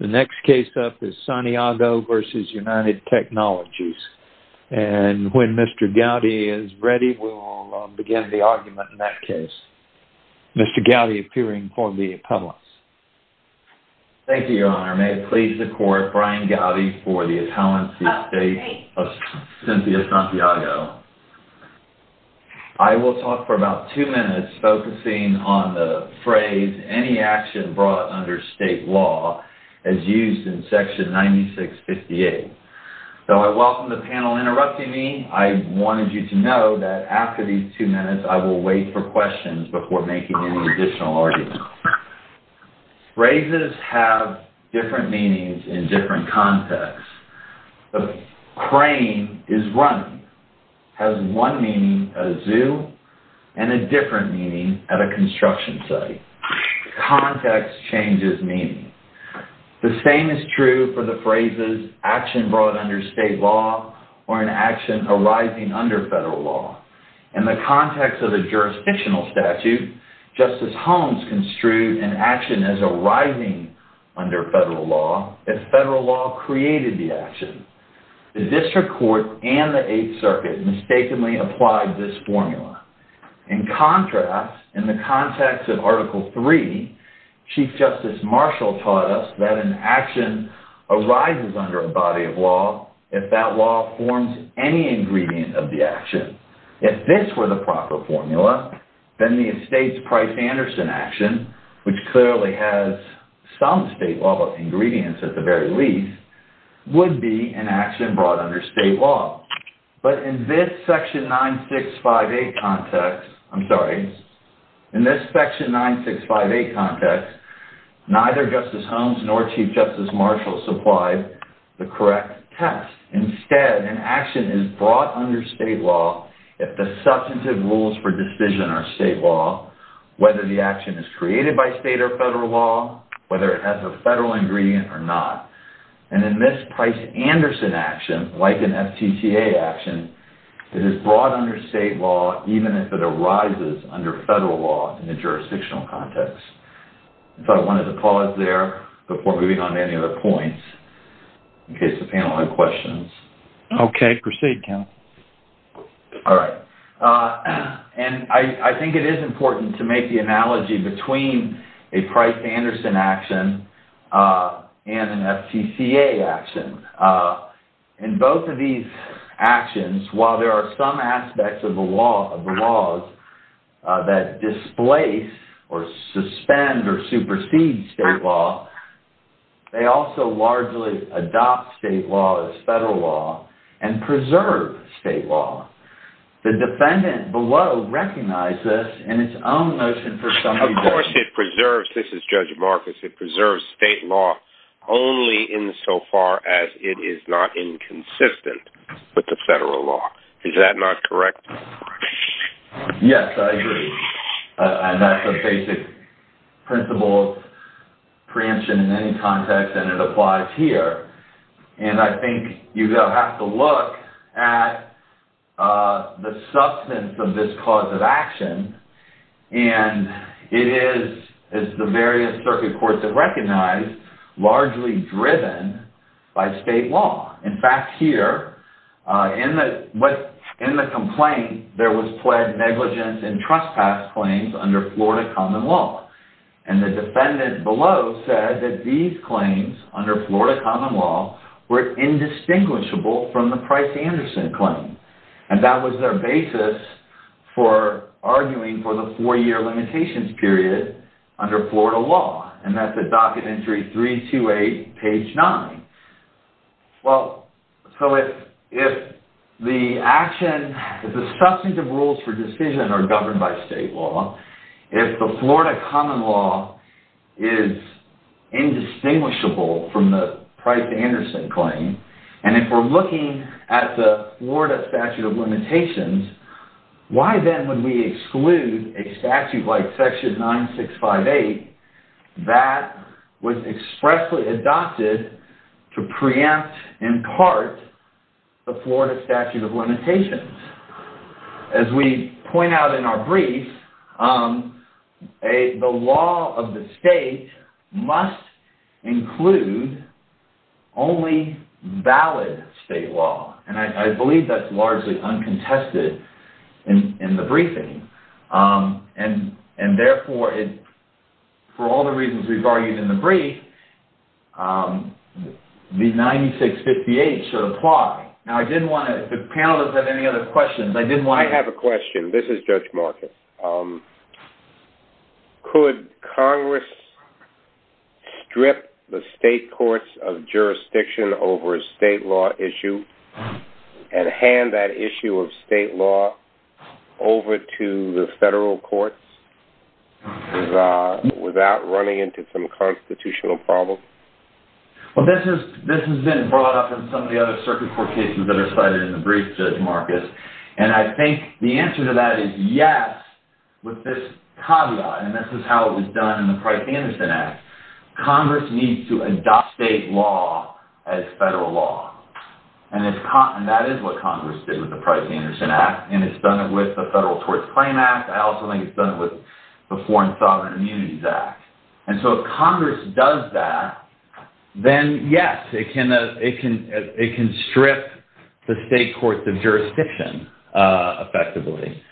The next case up is Santiago v. United Technologies. And when Mr. Gowdy is ready, we'll begin the argument in that case. Mr. Gowdy appearing for the appellants. Thank you, your honor. May it please the court, Brian Gowdy for the appellancy of Cynthia Santiago. I will talk for about two minutes focusing on the phrase, any action brought under state law as used in section 9658. Though I welcome the panel interrupting me, I wanted you to know that after these two minutes, I will wait for questions before making any additional arguments. Phrases have different meanings in different contexts. A crane is running has one meaning at a zoo and a different meaning at a construction site. Context changes meaning. The same is true for the phrases action brought under state law or an action arising under federal law. In the context of the jurisdictional statute, Justice Holmes construed an action as arising under federal law if federal law created the action. The district court and the 8th circuit mistakenly applied this formula. In contrast, in the context of article 3, Chief Justice Marshall taught us that an action arises under a body of law if that law forms any ingredient of the action. If this were the proper formula, then the estate's Price-Anderson action, which clearly has some state law ingredients at the very least, would be an action brought under state law. But in this section 9658 context, neither Justice Holmes nor Chief Justice Marshall supplied the correct test. Instead, an action is brought under state law if the substantive rules for decision are state law, whether the action is created by state or federal law, whether it has a federal ingredient or not. And in this Price-Anderson action, like an FTTA action, it is brought under state law even if it arises under federal law in the jurisdictional context. I thought I wanted to pause there before moving on to any other points in case the panel had questions. Okay. Proceed, Ken. All right. And I think it is important to make the analogy between a Price-Anderson action and an FTCA action. In both of these actions, while there are some aspects of the laws that displace or suspend or supersede state law, they also largely adopt state law as federal law and preserve state law. The defendant below recognizes this in its own notion for some reason. This is Judge Marcus. It preserves state law only insofar as it is not inconsistent with the federal law. Is that not correct? Yes, I agree. And that's a basic principle preemption in any context, and it applies here. And I think you have to look at the substance of this cause of action. And it is, as the various circuit courts have recognized, largely driven by state law. In fact, here, in the complaint, there was pled negligence and trespass claims under Florida common law. And the defendant below said that these claims under Florida common law were indistinguishable from the Price-Anderson claim. And that was their basis for arguing for the four-year limitations period under Florida law. And that's at docket entry 328, page 9. Well, so if the action, if the substantive rules for decision are governed by state law, if the Florida common law is indistinguishable from the Price-Anderson claim, and if we're looking at the Florida statute of limitations, why then would we exclude a statute like section 9658 that was expressly adopted to preempt, in part, the Florida statute of limitations? As we point out in our brief, the law of the state must include only valid state law. And I believe that's largely uncontested in the briefing. And therefore, for all the reasons we've argued in the brief, the 9658 should apply. Now, I didn't want to, if the panel doesn't have any other questions, I didn't want to... I have a question. This is Judge Marcus. Could Congress strip the state courts of jurisdiction over a state law issue? And hand that issue of state law over to the federal courts without running into some constitutional problems? Well, this has been brought up in some of the other circuit court cases that are cited in the brief, Judge Marcus. And I think the answer to that is yes, with this caveat. And this is how it was done in the Price-Anderson Act. Congress needs to adopt state law as federal law. And that is what Congress did with the Price-Anderson Act. And it's done it with the Federal Tort Claim Act. I also think it's done it with the Foreign Sovereign Immunities Act. And so if Congress does that, then yes, it can strip the state courts of jurisdiction effectively.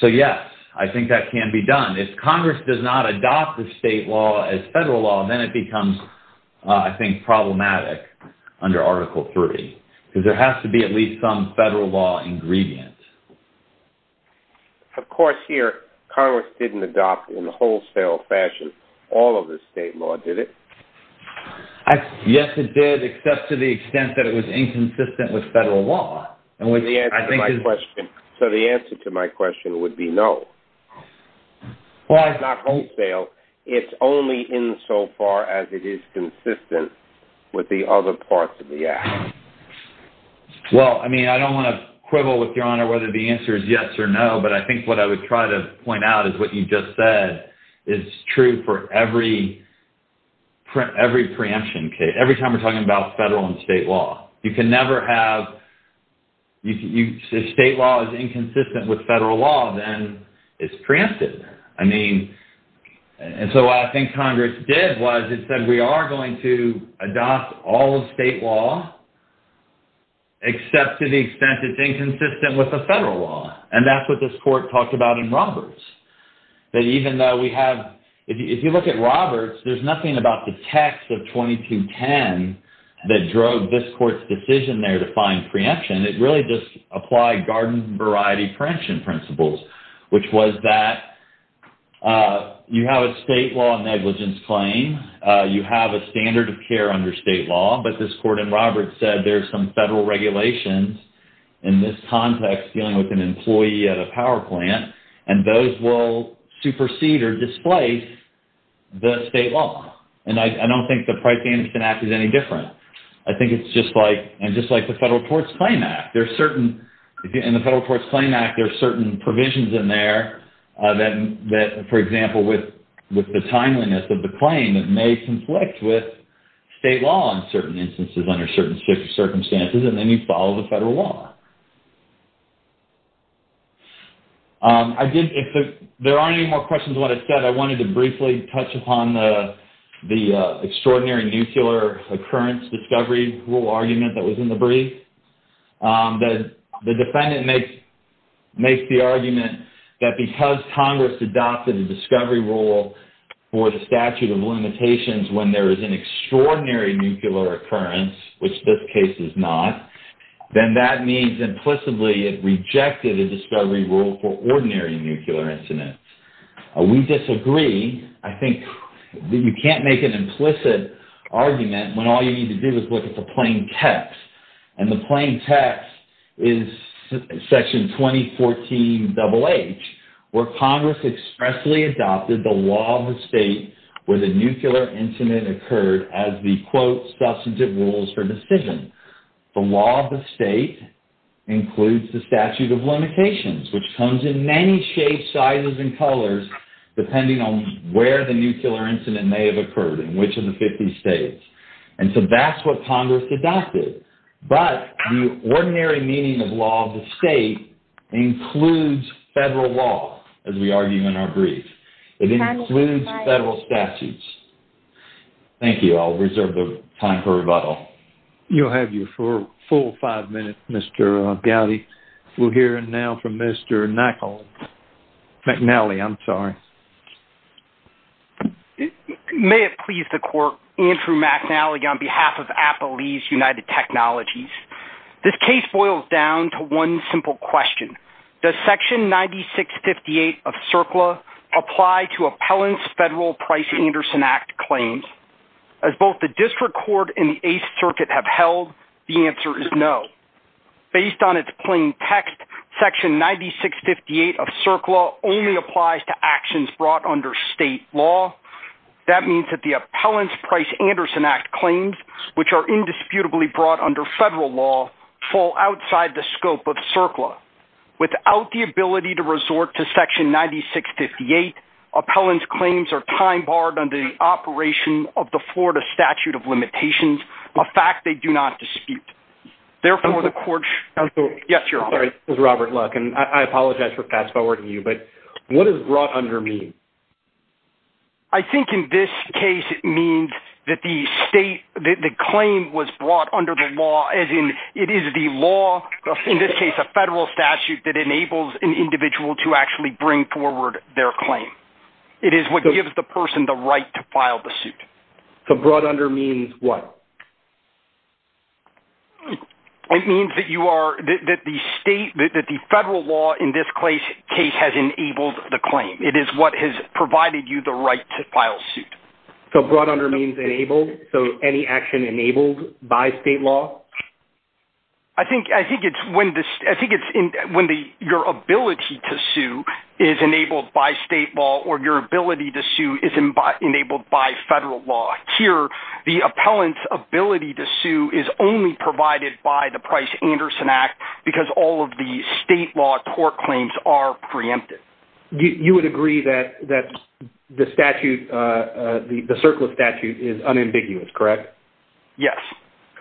So yes, I think that can be done. If Congress does not adopt the state law as federal law, then it becomes, I think, problematic under Article 30, because there has to be at least some federal law ingredient. Of course, here, Congress didn't adopt in a wholesale fashion all of the state law, did it? Yes, it did, except to the extent that it was inconsistent with federal law. So the answer to my question would be no. Well, it's not wholesale. It's only insofar as it is consistent with the other parts of the Act. Well, I mean, I don't want to quibble with Your Honor whether the answer is yes or no, but I think what I would try to point out is what you just said is true for every preemption case, every time we're talking about federal and state law. You can never have, if state law is inconsistent with federal law, then it's preempted. I mean, and so what I think Congress did was it said we are going to adopt all of state law, except to the extent it's inconsistent with the federal law. And that's what this court talked about in Roberts. That even though we have, if you look at Roberts, there's nothing about the text of 2210 that drove this court's decision there to find preemption. It really just applied garden-variety preemption principles, which was that you have a state law negligence claim, you have a standard of care under state law, but this court in Roberts said there's some federal regulations in this context dealing with an employee at a power plant, and those will supersede or displace the state law. And I don't think the Price-Anderson Act is any different. I think it's just like the Federal Courts Claim Act. In the Federal Courts Claim Act, there's certain provisions in there that, for example, with the timeliness of the claim, it may conflict with state law in certain instances under certain circumstances, and then you follow the federal law. There aren't any more questions on what I said. I wanted to briefly touch upon the extraordinary nuclear occurrence discovery rule argument that was in the brief. The defendant makes the argument that because Congress adopted a discovery rule for the statute of limitations when there is an extraordinary nuclear occurrence, which this case is not, then that means implicitly it rejected a discovery rule for ordinary nuclear incidents. We disagree. I think that you can't make an implicit argument when all you need to do is look at the plain text, and the plain text is Section 2014-HH, where Congress expressly adopted the law of the state where the nuclear incident occurred as the, quote, substantive rules for decision. The law of the state includes the statute of limitations, which comes in many shapes, sizes, and colors, depending on where the nuclear incident may have occurred in which of the 50 states. And so that's what Congress adopted. But the ordinary meaning of law of the state includes federal law, as we argue in our brief. It includes federal statutes. Thank you. I'll reserve the time for rebuttal. You'll have your full five minutes, Mr. Gowdy. We'll hear now from Mr. McNally. I'm sorry. May it please the court, Andrew McNally on behalf of Appalachian United Technologies. This case boils down to one simple question. Does Section 9658 of CERCLA apply to appellants' federal Price-Anderson Act claims? As both the district court and the Eighth Circuit have held, the answer is no. Based on its plain text, Section 9658 of CERCLA only applies to actions brought under state law. That means that the appellants' Price-Anderson Act claims, which are indisputably brought under federal law, fall outside the scope of CERCLA. Without the ability to resort to Section 9658, appellants' claims are time-barred under the operation of the Florida Statute of Limitations, a fact they do not dispute. Therefore, the court... Yes, you're on. Sorry. This is Robert Luck, and I apologize for fast-forwarding you, but what does brought under mean? I think in this case it means that the state... that the claim was brought under the law, as in it is the law, in this case a federal statute, that enables an individual to actually bring forward their claim. It is what gives the person the right to file the suit. So brought under means what? It means that you are... that the state... that the federal law in this case has enabled the claim. It is what has provided you the right to file suit. So brought under means enabled, so any action enabled by state law? I think it's when your ability to sue is enabled by state law or your ability to sue is enabled by federal law. Here, the appellant's ability to sue is only provided by the Price-Anderson Act because all of the state law tort claims are preempted. You would agree that the statute, the Circula statute, is unambiguous, correct? Yes.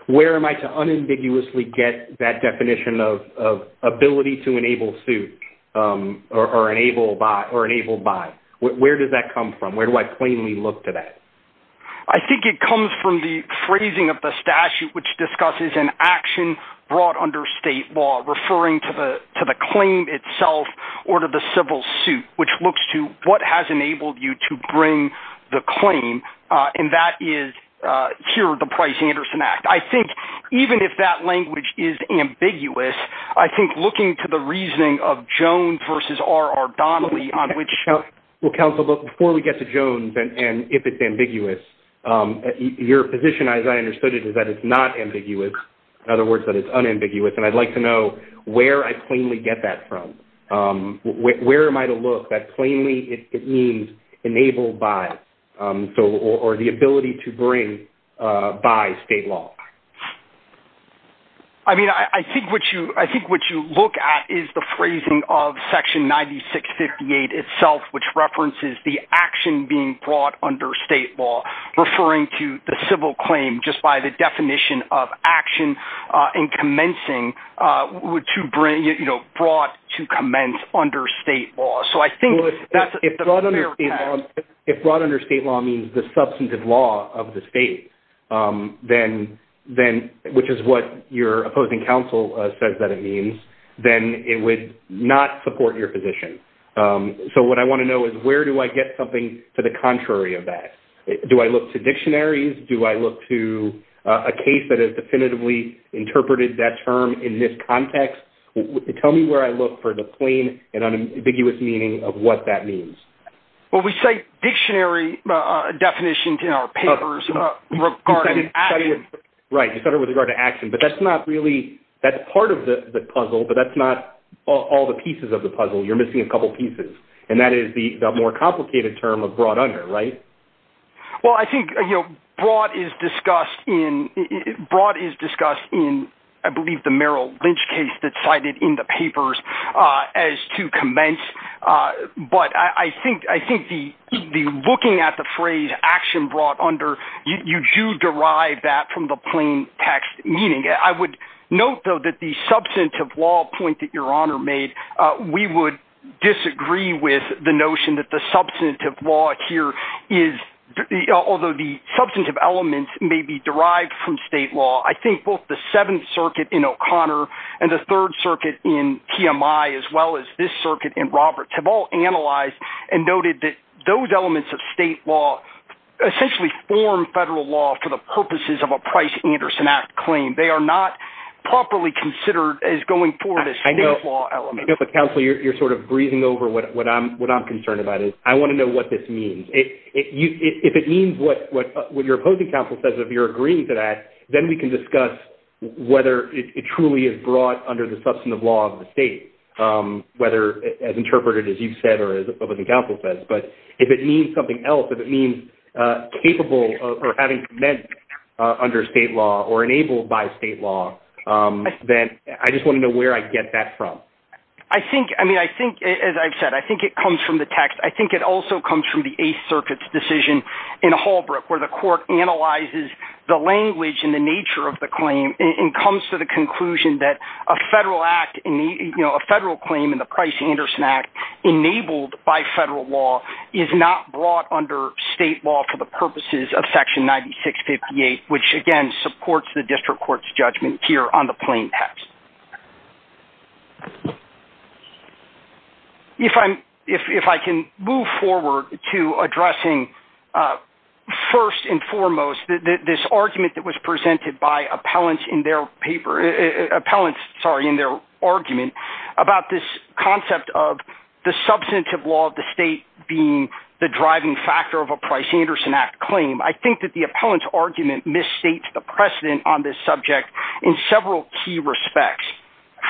Where am I to unambiguously get that definition of ability to enable suit or enable by? Where does that come from? Where do I plainly look to that? I think it comes from the phrasing of the referring to the claim itself or to the civil suit, which looks to what has enabled you to bring the claim, and that is here, the Price-Anderson Act. I think even if that language is ambiguous, I think looking to the reasoning of Jones versus R.R. Donnelly on which... Well, counsel, before we get to Jones and if it's ambiguous, your position, as I understood it, is that it's not ambiguous. In other words, that it's unambiguous, and I'd like to know where I plainly get that from. Where am I to look that plainly it means enabled by or the ability to bring by state law? I mean, I think what you look at is the phrasing of Section 9658 itself, which references the action being brought under state law, referring to the civil claim just by the definition of action in commencing, brought to commence under state law. So I think... If brought under state law means the substantive law of the state, which is what your opposing counsel says that it means, then it would not support your position. So what I want to know is where do I get something to the contrary of that? Do I look to dictionaries? Do I look to a case that has definitively interpreted that term in this context? Tell me where I look for the plain and unambiguous meaning of what that means. Well, we cite dictionary definitions in our papers regarding... Right, you cite it with regard to action, but that's not really... That's part of the puzzle, but that's not all the pieces of the puzzle. You're missing a couple pieces, and that is the more complicated term of brought under, right? Well, I think brought is discussed in, I believe, the Merrill Lynch case that's cited in the papers as to commence, but I think the looking at the phrase action brought under, you do derive that from the plain text meaning. I would note, though, that the substantive law point that we would disagree with the notion that the substantive law here is... Although the substantive elements may be derived from state law, I think both the Seventh Circuit in O'Connor and the Third Circuit in TMI, as well as this circuit in Roberts, have all analyzed and noted that those elements of state law essentially form federal law for the purposes of a Price-Anderson Act claim. They are not properly considered as going forward as state elements. Counsel, you're sort of breezing over what I'm concerned about. I want to know what this means. If it means what your opposing counsel says, if you're agreeing to that, then we can discuss whether it truly is brought under the substantive law of the state, whether as interpreted as you've said or what the counsel says. But if it means something else, if it means capable or having commenced under state law or enabled by state law, then I just want to know where I get that from. I think, I mean, I think, as I've said, I think it comes from the text. I think it also comes from the Eighth Circuit's decision in Holbrook where the court analyzes the language and the nature of the claim and comes to the conclusion that a federal act, a federal claim in the Price-Anderson Act enabled by federal law is not brought under state law for the purposes of Section 9658, which, again, supports the plain text. If I can move forward to addressing, first and foremost, this argument that was presented by appellants in their paper, appellants, sorry, in their argument about this concept of the substantive law of the state being the driving factor of a Price-Anderson Act claim, I think that the appellant's argument misstates the precedent on this subject in several key respects.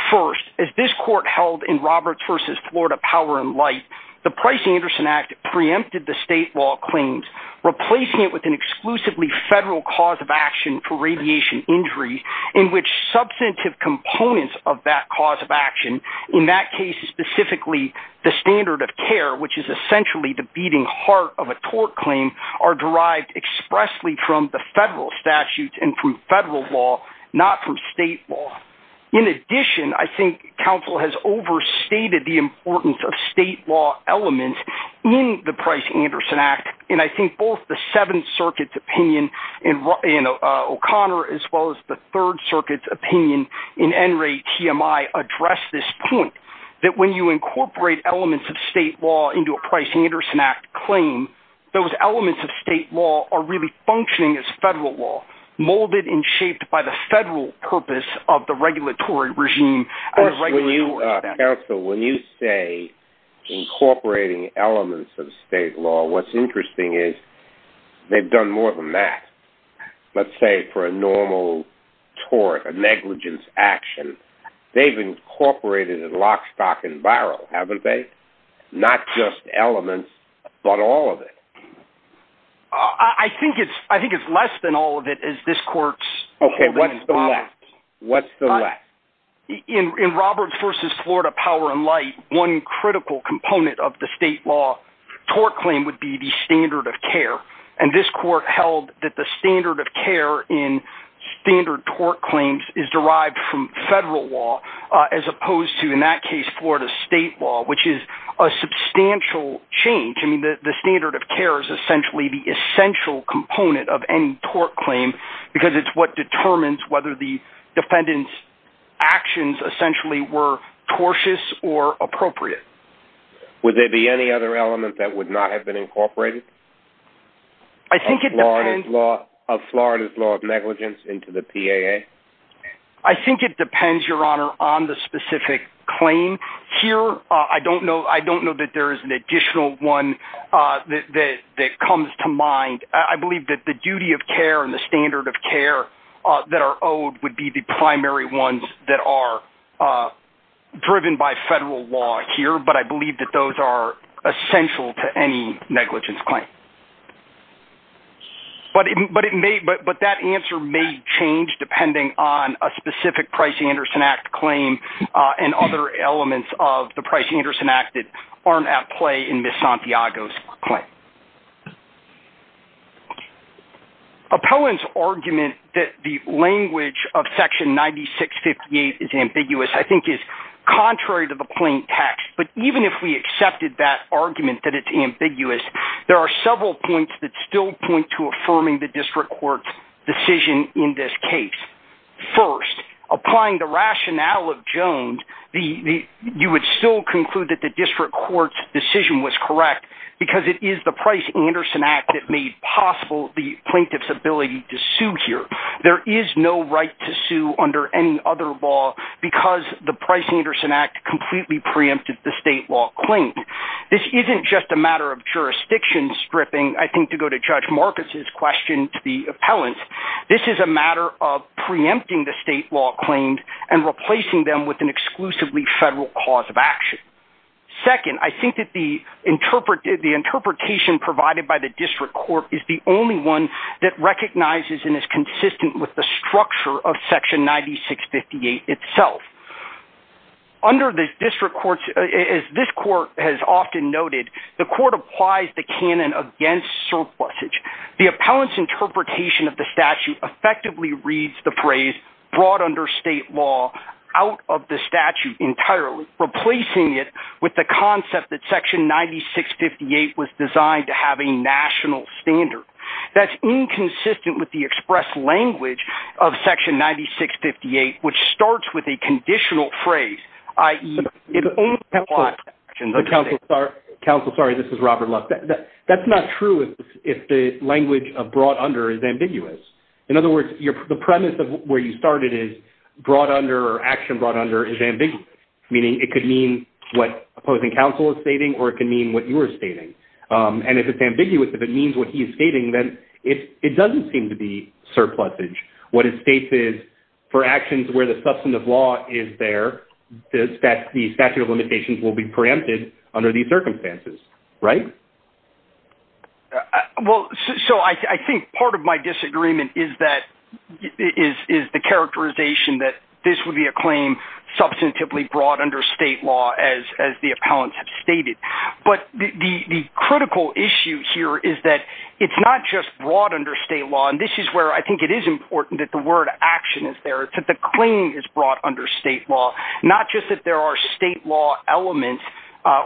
First, as this court held in Roberts v. Florida Power and Light, the Price-Anderson Act preempted the state law claims, replacing it with an exclusively federal cause of action for radiation injury in which substantive components of that cause of action, in that case, specifically the standard of care, which is essentially the beating heart of a tort claim, are derived expressly from the federal statutes and from federal law, not from state law. In addition, I think counsel has overstated the importance of state law elements in the Price-Anderson Act, and I think both the Seventh Circuit's opinion in O'Connor as well as the Third Circuit's opinion in Enright TMI address this point, that when you incorporate elements of the Price-Anderson Act claim, those elements of state law are really functioning as federal law, molded and shaped by the federal purpose of the regulatory regime. First, when you, counsel, when you say incorporating elements of state law, what's interesting is they've done more than that. Let's say for a normal tort, a negligence action, they've incorporated it in lock, stock, and barrel, haven't they? Not just elements, but all of it. I think it's less than all of it, as this Court's... Okay, what's the less? What's the less? In Roberts v. Florida Power and Light, one critical component of the state law tort claim would be the standard of care, and this Court held that the standard of care in standard tort claims is derived from federal law as opposed to, in that case, Florida state law, which is a substantial change. I mean, the standard of care is essentially the essential component of any tort claim because it's what determines whether the defendant's actions essentially were tortious or appropriate. Would there be any other element that would negligence into the PAA? I think it depends, Your Honor, on the specific claim. Here, I don't know that there is an additional one that comes to mind. I believe that the duty of care and the standard of care that are owed would be the primary ones that are driven by federal law here, but I believe that those are essential to any negligence claim. But that answer may change depending on a specific Price-Anderson Act claim and other elements of the Price-Anderson Act that aren't at play in Ms. Santiago's claim. Appellant's argument that the language of section 9658 is ambiguous, I think, is contrary to the plain text, but even if we accepted that argument that it's ambiguous, there are several points that still point to affirming the district court's decision in this case. First, applying the rationale of Jones, you would still conclude that the district court's decision was correct because it is the Price-Anderson Act that made possible the plaintiff's ability to sue here. There is no right to sue under any other law because the Price-Anderson Act completely preempted the state law claim. This isn't just a matter of jurisdiction stripping, I think, to go to Judge Marcus's question to the appellant. This is a matter of preempting the state law claims and replacing them with an exclusively federal cause of action. Second, I think that the interpretation provided by the district court is the only one that recognizes and is consistent with the structure of section 9658 itself. Under the district courts, as this court has often noted, the court applies the canon against surplusage. The appellant's interpretation of the statute effectively reads the phrase brought under state law out of the statute entirely, replacing it with the concept that section 9658 was designed to have a national standard. That's inconsistent with the express language of section 9658, which starts with a conditional phrase, i.e. Counsel, sorry, this is Robert Love. That's not true if the language of brought under is ambiguous. In other words, the premise of where you started is brought under or action brought under is ambiguous, meaning it could mean what opposing counsel is stating or it can mean what you're stating. And if it's ambiguous, if it means what he's stating, then it doesn't seem to be surplusage. What it states is for actions where the substantive law is there, the statute of limitations will be preempted under these circumstances, right? Well, so I think part of my disagreement is that is the characterization that this would be a claim substantively brought under state law as the appellants have stated. But the critical issue here is that it's not just brought under state law. And this is where I think it is important that the word action is there. It's that the claim is brought under state law, not just that there are state law elements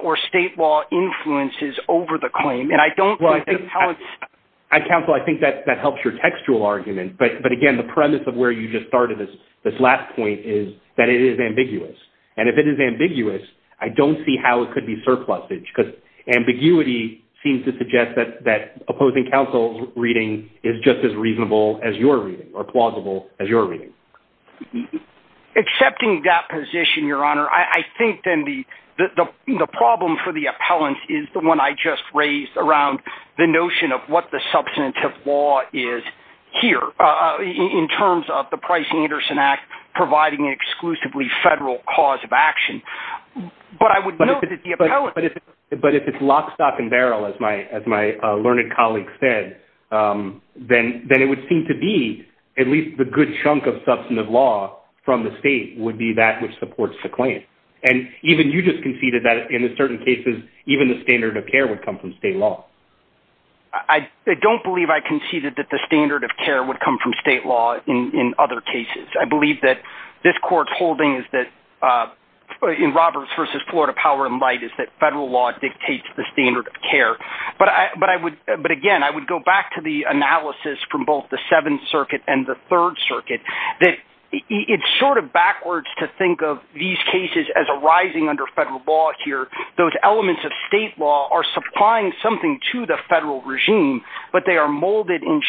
or state law influences over the claim. And I don't think that's how it's Counsel, I think that that helps your textual argument. But again, the premise of where you just started this last point is that it is ambiguous. And if it is ambiguous, I don't see how it could be surplusage because ambiguity seems to suggest that that opposing counsel's reading is just as reasonable as your reading or plausible as your reading. Accepting that position, Your Honor, I think then the problem for the appellant is the one I just raised around the notion of what the substantive law is here in terms of the Price-Anderson Act, providing exclusively federal cause of action. But I would know that the appellant But if it's lock, stock and barrel, as my as my learned colleague said, then then it would seem to be at least the good chunk of substantive law from the state would be that which supports the claim. And even you just conceded that in certain cases, even the standard of care would come from state law. I don't believe I conceded that the standard of care would come from state law. In other cases, I believe that this court holding is that in Roberts versus Florida, power and might is that federal law dictates the standard of care. But I would but again, I would go back to the analysis from both the Seventh Circuit and the Third Circuit, that it's sort of backwards to think of these cases as arising under federal law here. Those elements of state law are supplying something to the federal regime, but they are molded in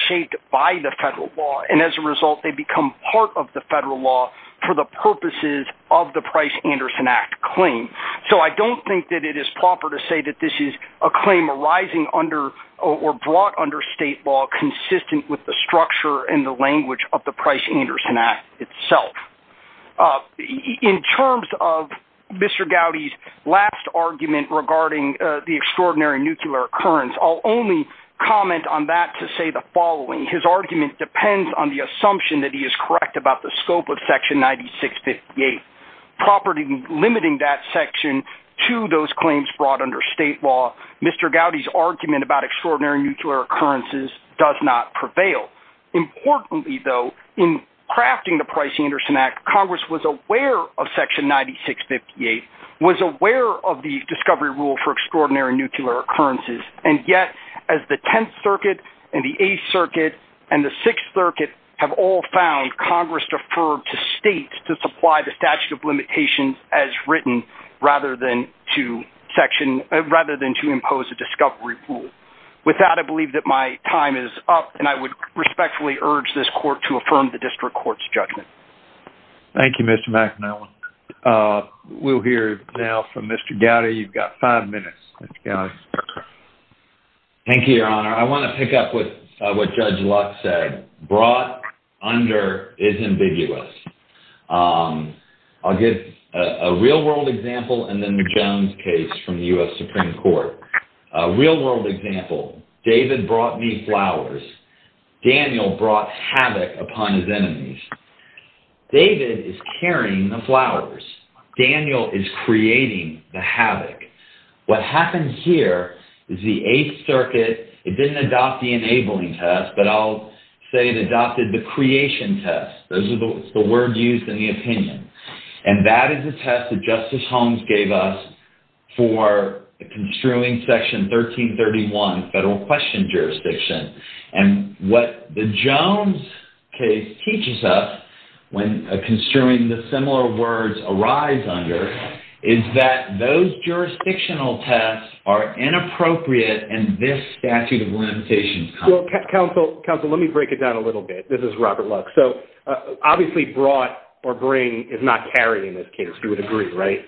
by the federal law. And as a result, they become part of the federal law for the purposes of the Price-Anderson Act claim. So I don't think that it is proper to say that this is a claim arising under or brought under state law consistent with the structure and the language of the Price-Anderson Act itself. In terms of Mr. Gowdy's last argument regarding the extraordinary nuclear occurrence, I'll only comment on that to say the following. His argument depends on the assumption that he is correct about the scope of Section 9658. Properly limiting that section to those claims brought under state law, Mr. Gowdy's argument about extraordinary nuclear occurrences does not prevail. Importantly, though, in crafting the Price-Anderson Act, Congress was aware of extraordinary nuclear occurrences. And yet, as the Tenth Circuit and the Eighth Circuit and the Sixth Circuit have all found, Congress deferred to states to supply the statute of limitations as written rather than to impose a discovery rule. With that, I believe that my time is up, and I would respectfully urge this Court to affirm the District Court's judgment. Thank you, Mr. McAnown. We'll hear now from Mr. Gowdy. You've got five minutes, Mr. Gowdy. Thank you, Your Honor. I want to pick up with what Judge Luck said. Brought under is ambiguous. I'll give a real-world example and then the Jones case from the U.S. Supreme Court. A real-world example. David brought me flowers. Daniel brought havoc upon his enemies. David is carrying the flowers. Daniel is creating the havoc. What happens here is the Eighth Circuit, it didn't adopt the enabling test, but I'll say it adopted the creation test. Those are the words used in the opinion. And that is the test that Justice Holmes gave us for construing Section 1331 Federal Question Jurisdiction. And what the Jones case teaches us when construing the similar words arise under is that those jurisdictional tests are inappropriate and this statute of limitations. Counsel, let me break it down a little bit. This is Robert Luck. Obviously, brought or bring is not carried in this case. You would agree, right?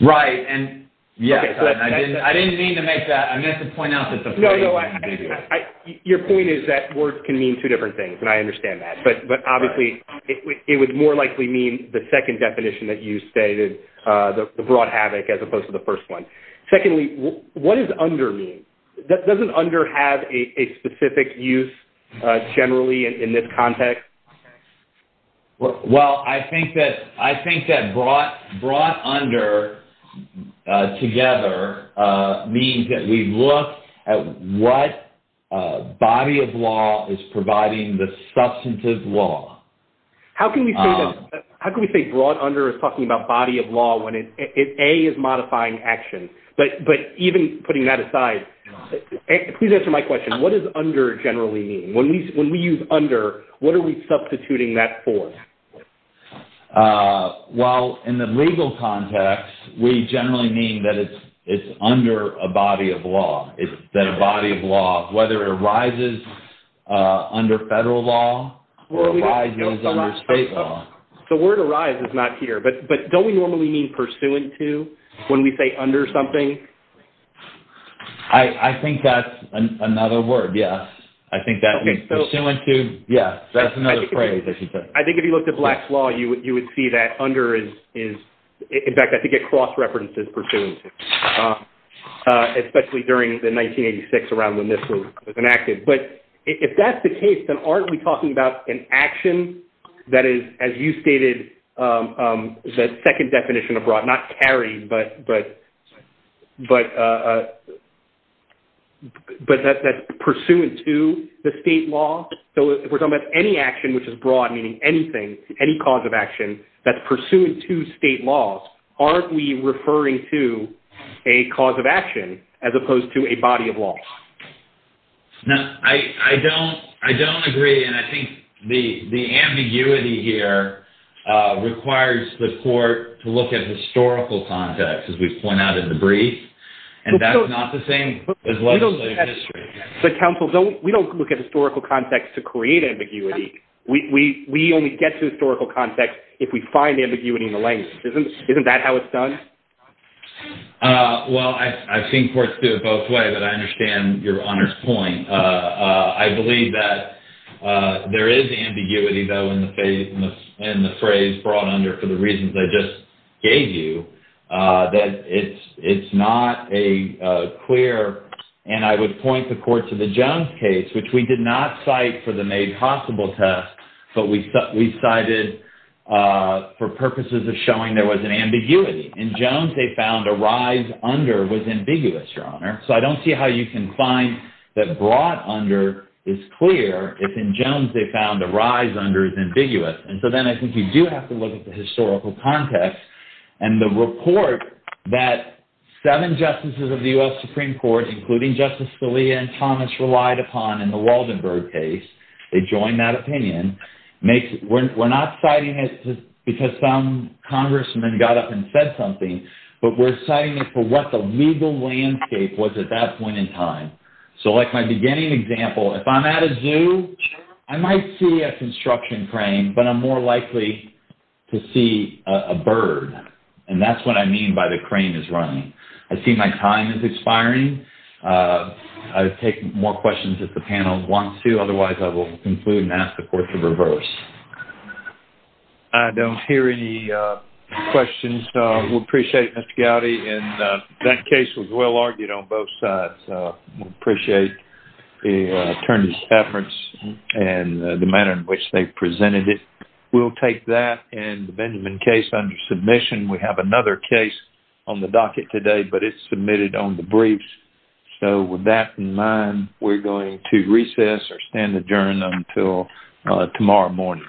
Right. And yes, I didn't mean to make that. I meant to point out that the... No, no. Your point is that words can mean two different things, and I understand that. But obviously, it would more likely mean the second definition that you stated, the brought havoc, as opposed to the first one. Secondly, what does under mean? Doesn't under have a specific use generally in this context? Okay. Well, I think that brought under together means that we look at what body of law is providing the substantive law. How can we say brought under is talking about body of law when A is modifying action? But even putting that aside, please answer my question. What does under generally mean? When we use under, what are we substituting that for? Well, in the legal context, we generally mean that it's under a body of law. It's that a body of law, whether it arises under federal law or arises under state law. The word arise is not here, but don't we normally mean pursuant to when we say under something? I think that's another word, yes. Pursuant to, yes. That's another phrase, I should say. I think if you looked at Black's Law, you would see that under is... In fact, I think it cross-references pursuant to, especially during the 1986 around when this was enacted. But if that's the case, then aren't we talking about an action that is, as you stated, is a second definition of brought, not carried, but that's pursuant to the state law? So if we're talking about any action which is brought, meaning anything, any cause of action that's pursuant to state laws, aren't we referring to a cause of action as opposed to a body of law? No, I don't agree. And I think the ambiguity here requires the court to look at historical context, as we've pointed out in the brief, and that's not the same as legislative history. But counsel, we don't look at historical context to create ambiguity. We only get to historical context if we find ambiguity in the language. Isn't that how it's done? Well, I've seen courts do it both ways, but I understand your honor's point. I believe that there is ambiguity, though, in the phrase brought under for the reasons I just gave you, that it's not a clear... And I would point the court to the Jones case, which we did not cite for the made possible test, but we cited for purposes of showing there was an ambiguity. In Jones, they found a rise under was ambiguous, your honor. So I don't see how you can find that brought under is clear if in Jones they found a rise under is ambiguous. And so then I think you do have to look at the historical context and the report that seven justices of the U.S. Supreme Court, including Justice Scalia and Thomas, relied upon in the Waldenberg case. They joined that opinion. We're not citing it because some congressman got up and said something, but we're citing it for what the legal landscape was at that point in time. So like my beginning example, if I'm at a zoo, I might see a construction crane, but I'm more likely to see a bird. And that's what I mean by the crane is running. I see my time is expiring. I'll take more questions if the panel wants to. Otherwise, I will conclude and ask the court to reverse. I don't hear any questions. We appreciate it, Mr. Gowdy, and that case was well argued on both sides. We appreciate the attorney's efforts and the manner in which they presented it. We'll take that and the Benjamin case under submission. We have another case on the docket today, but it's submitted on the briefs. So with that in mind, we're going to recess or stand adjourned until tomorrow morning.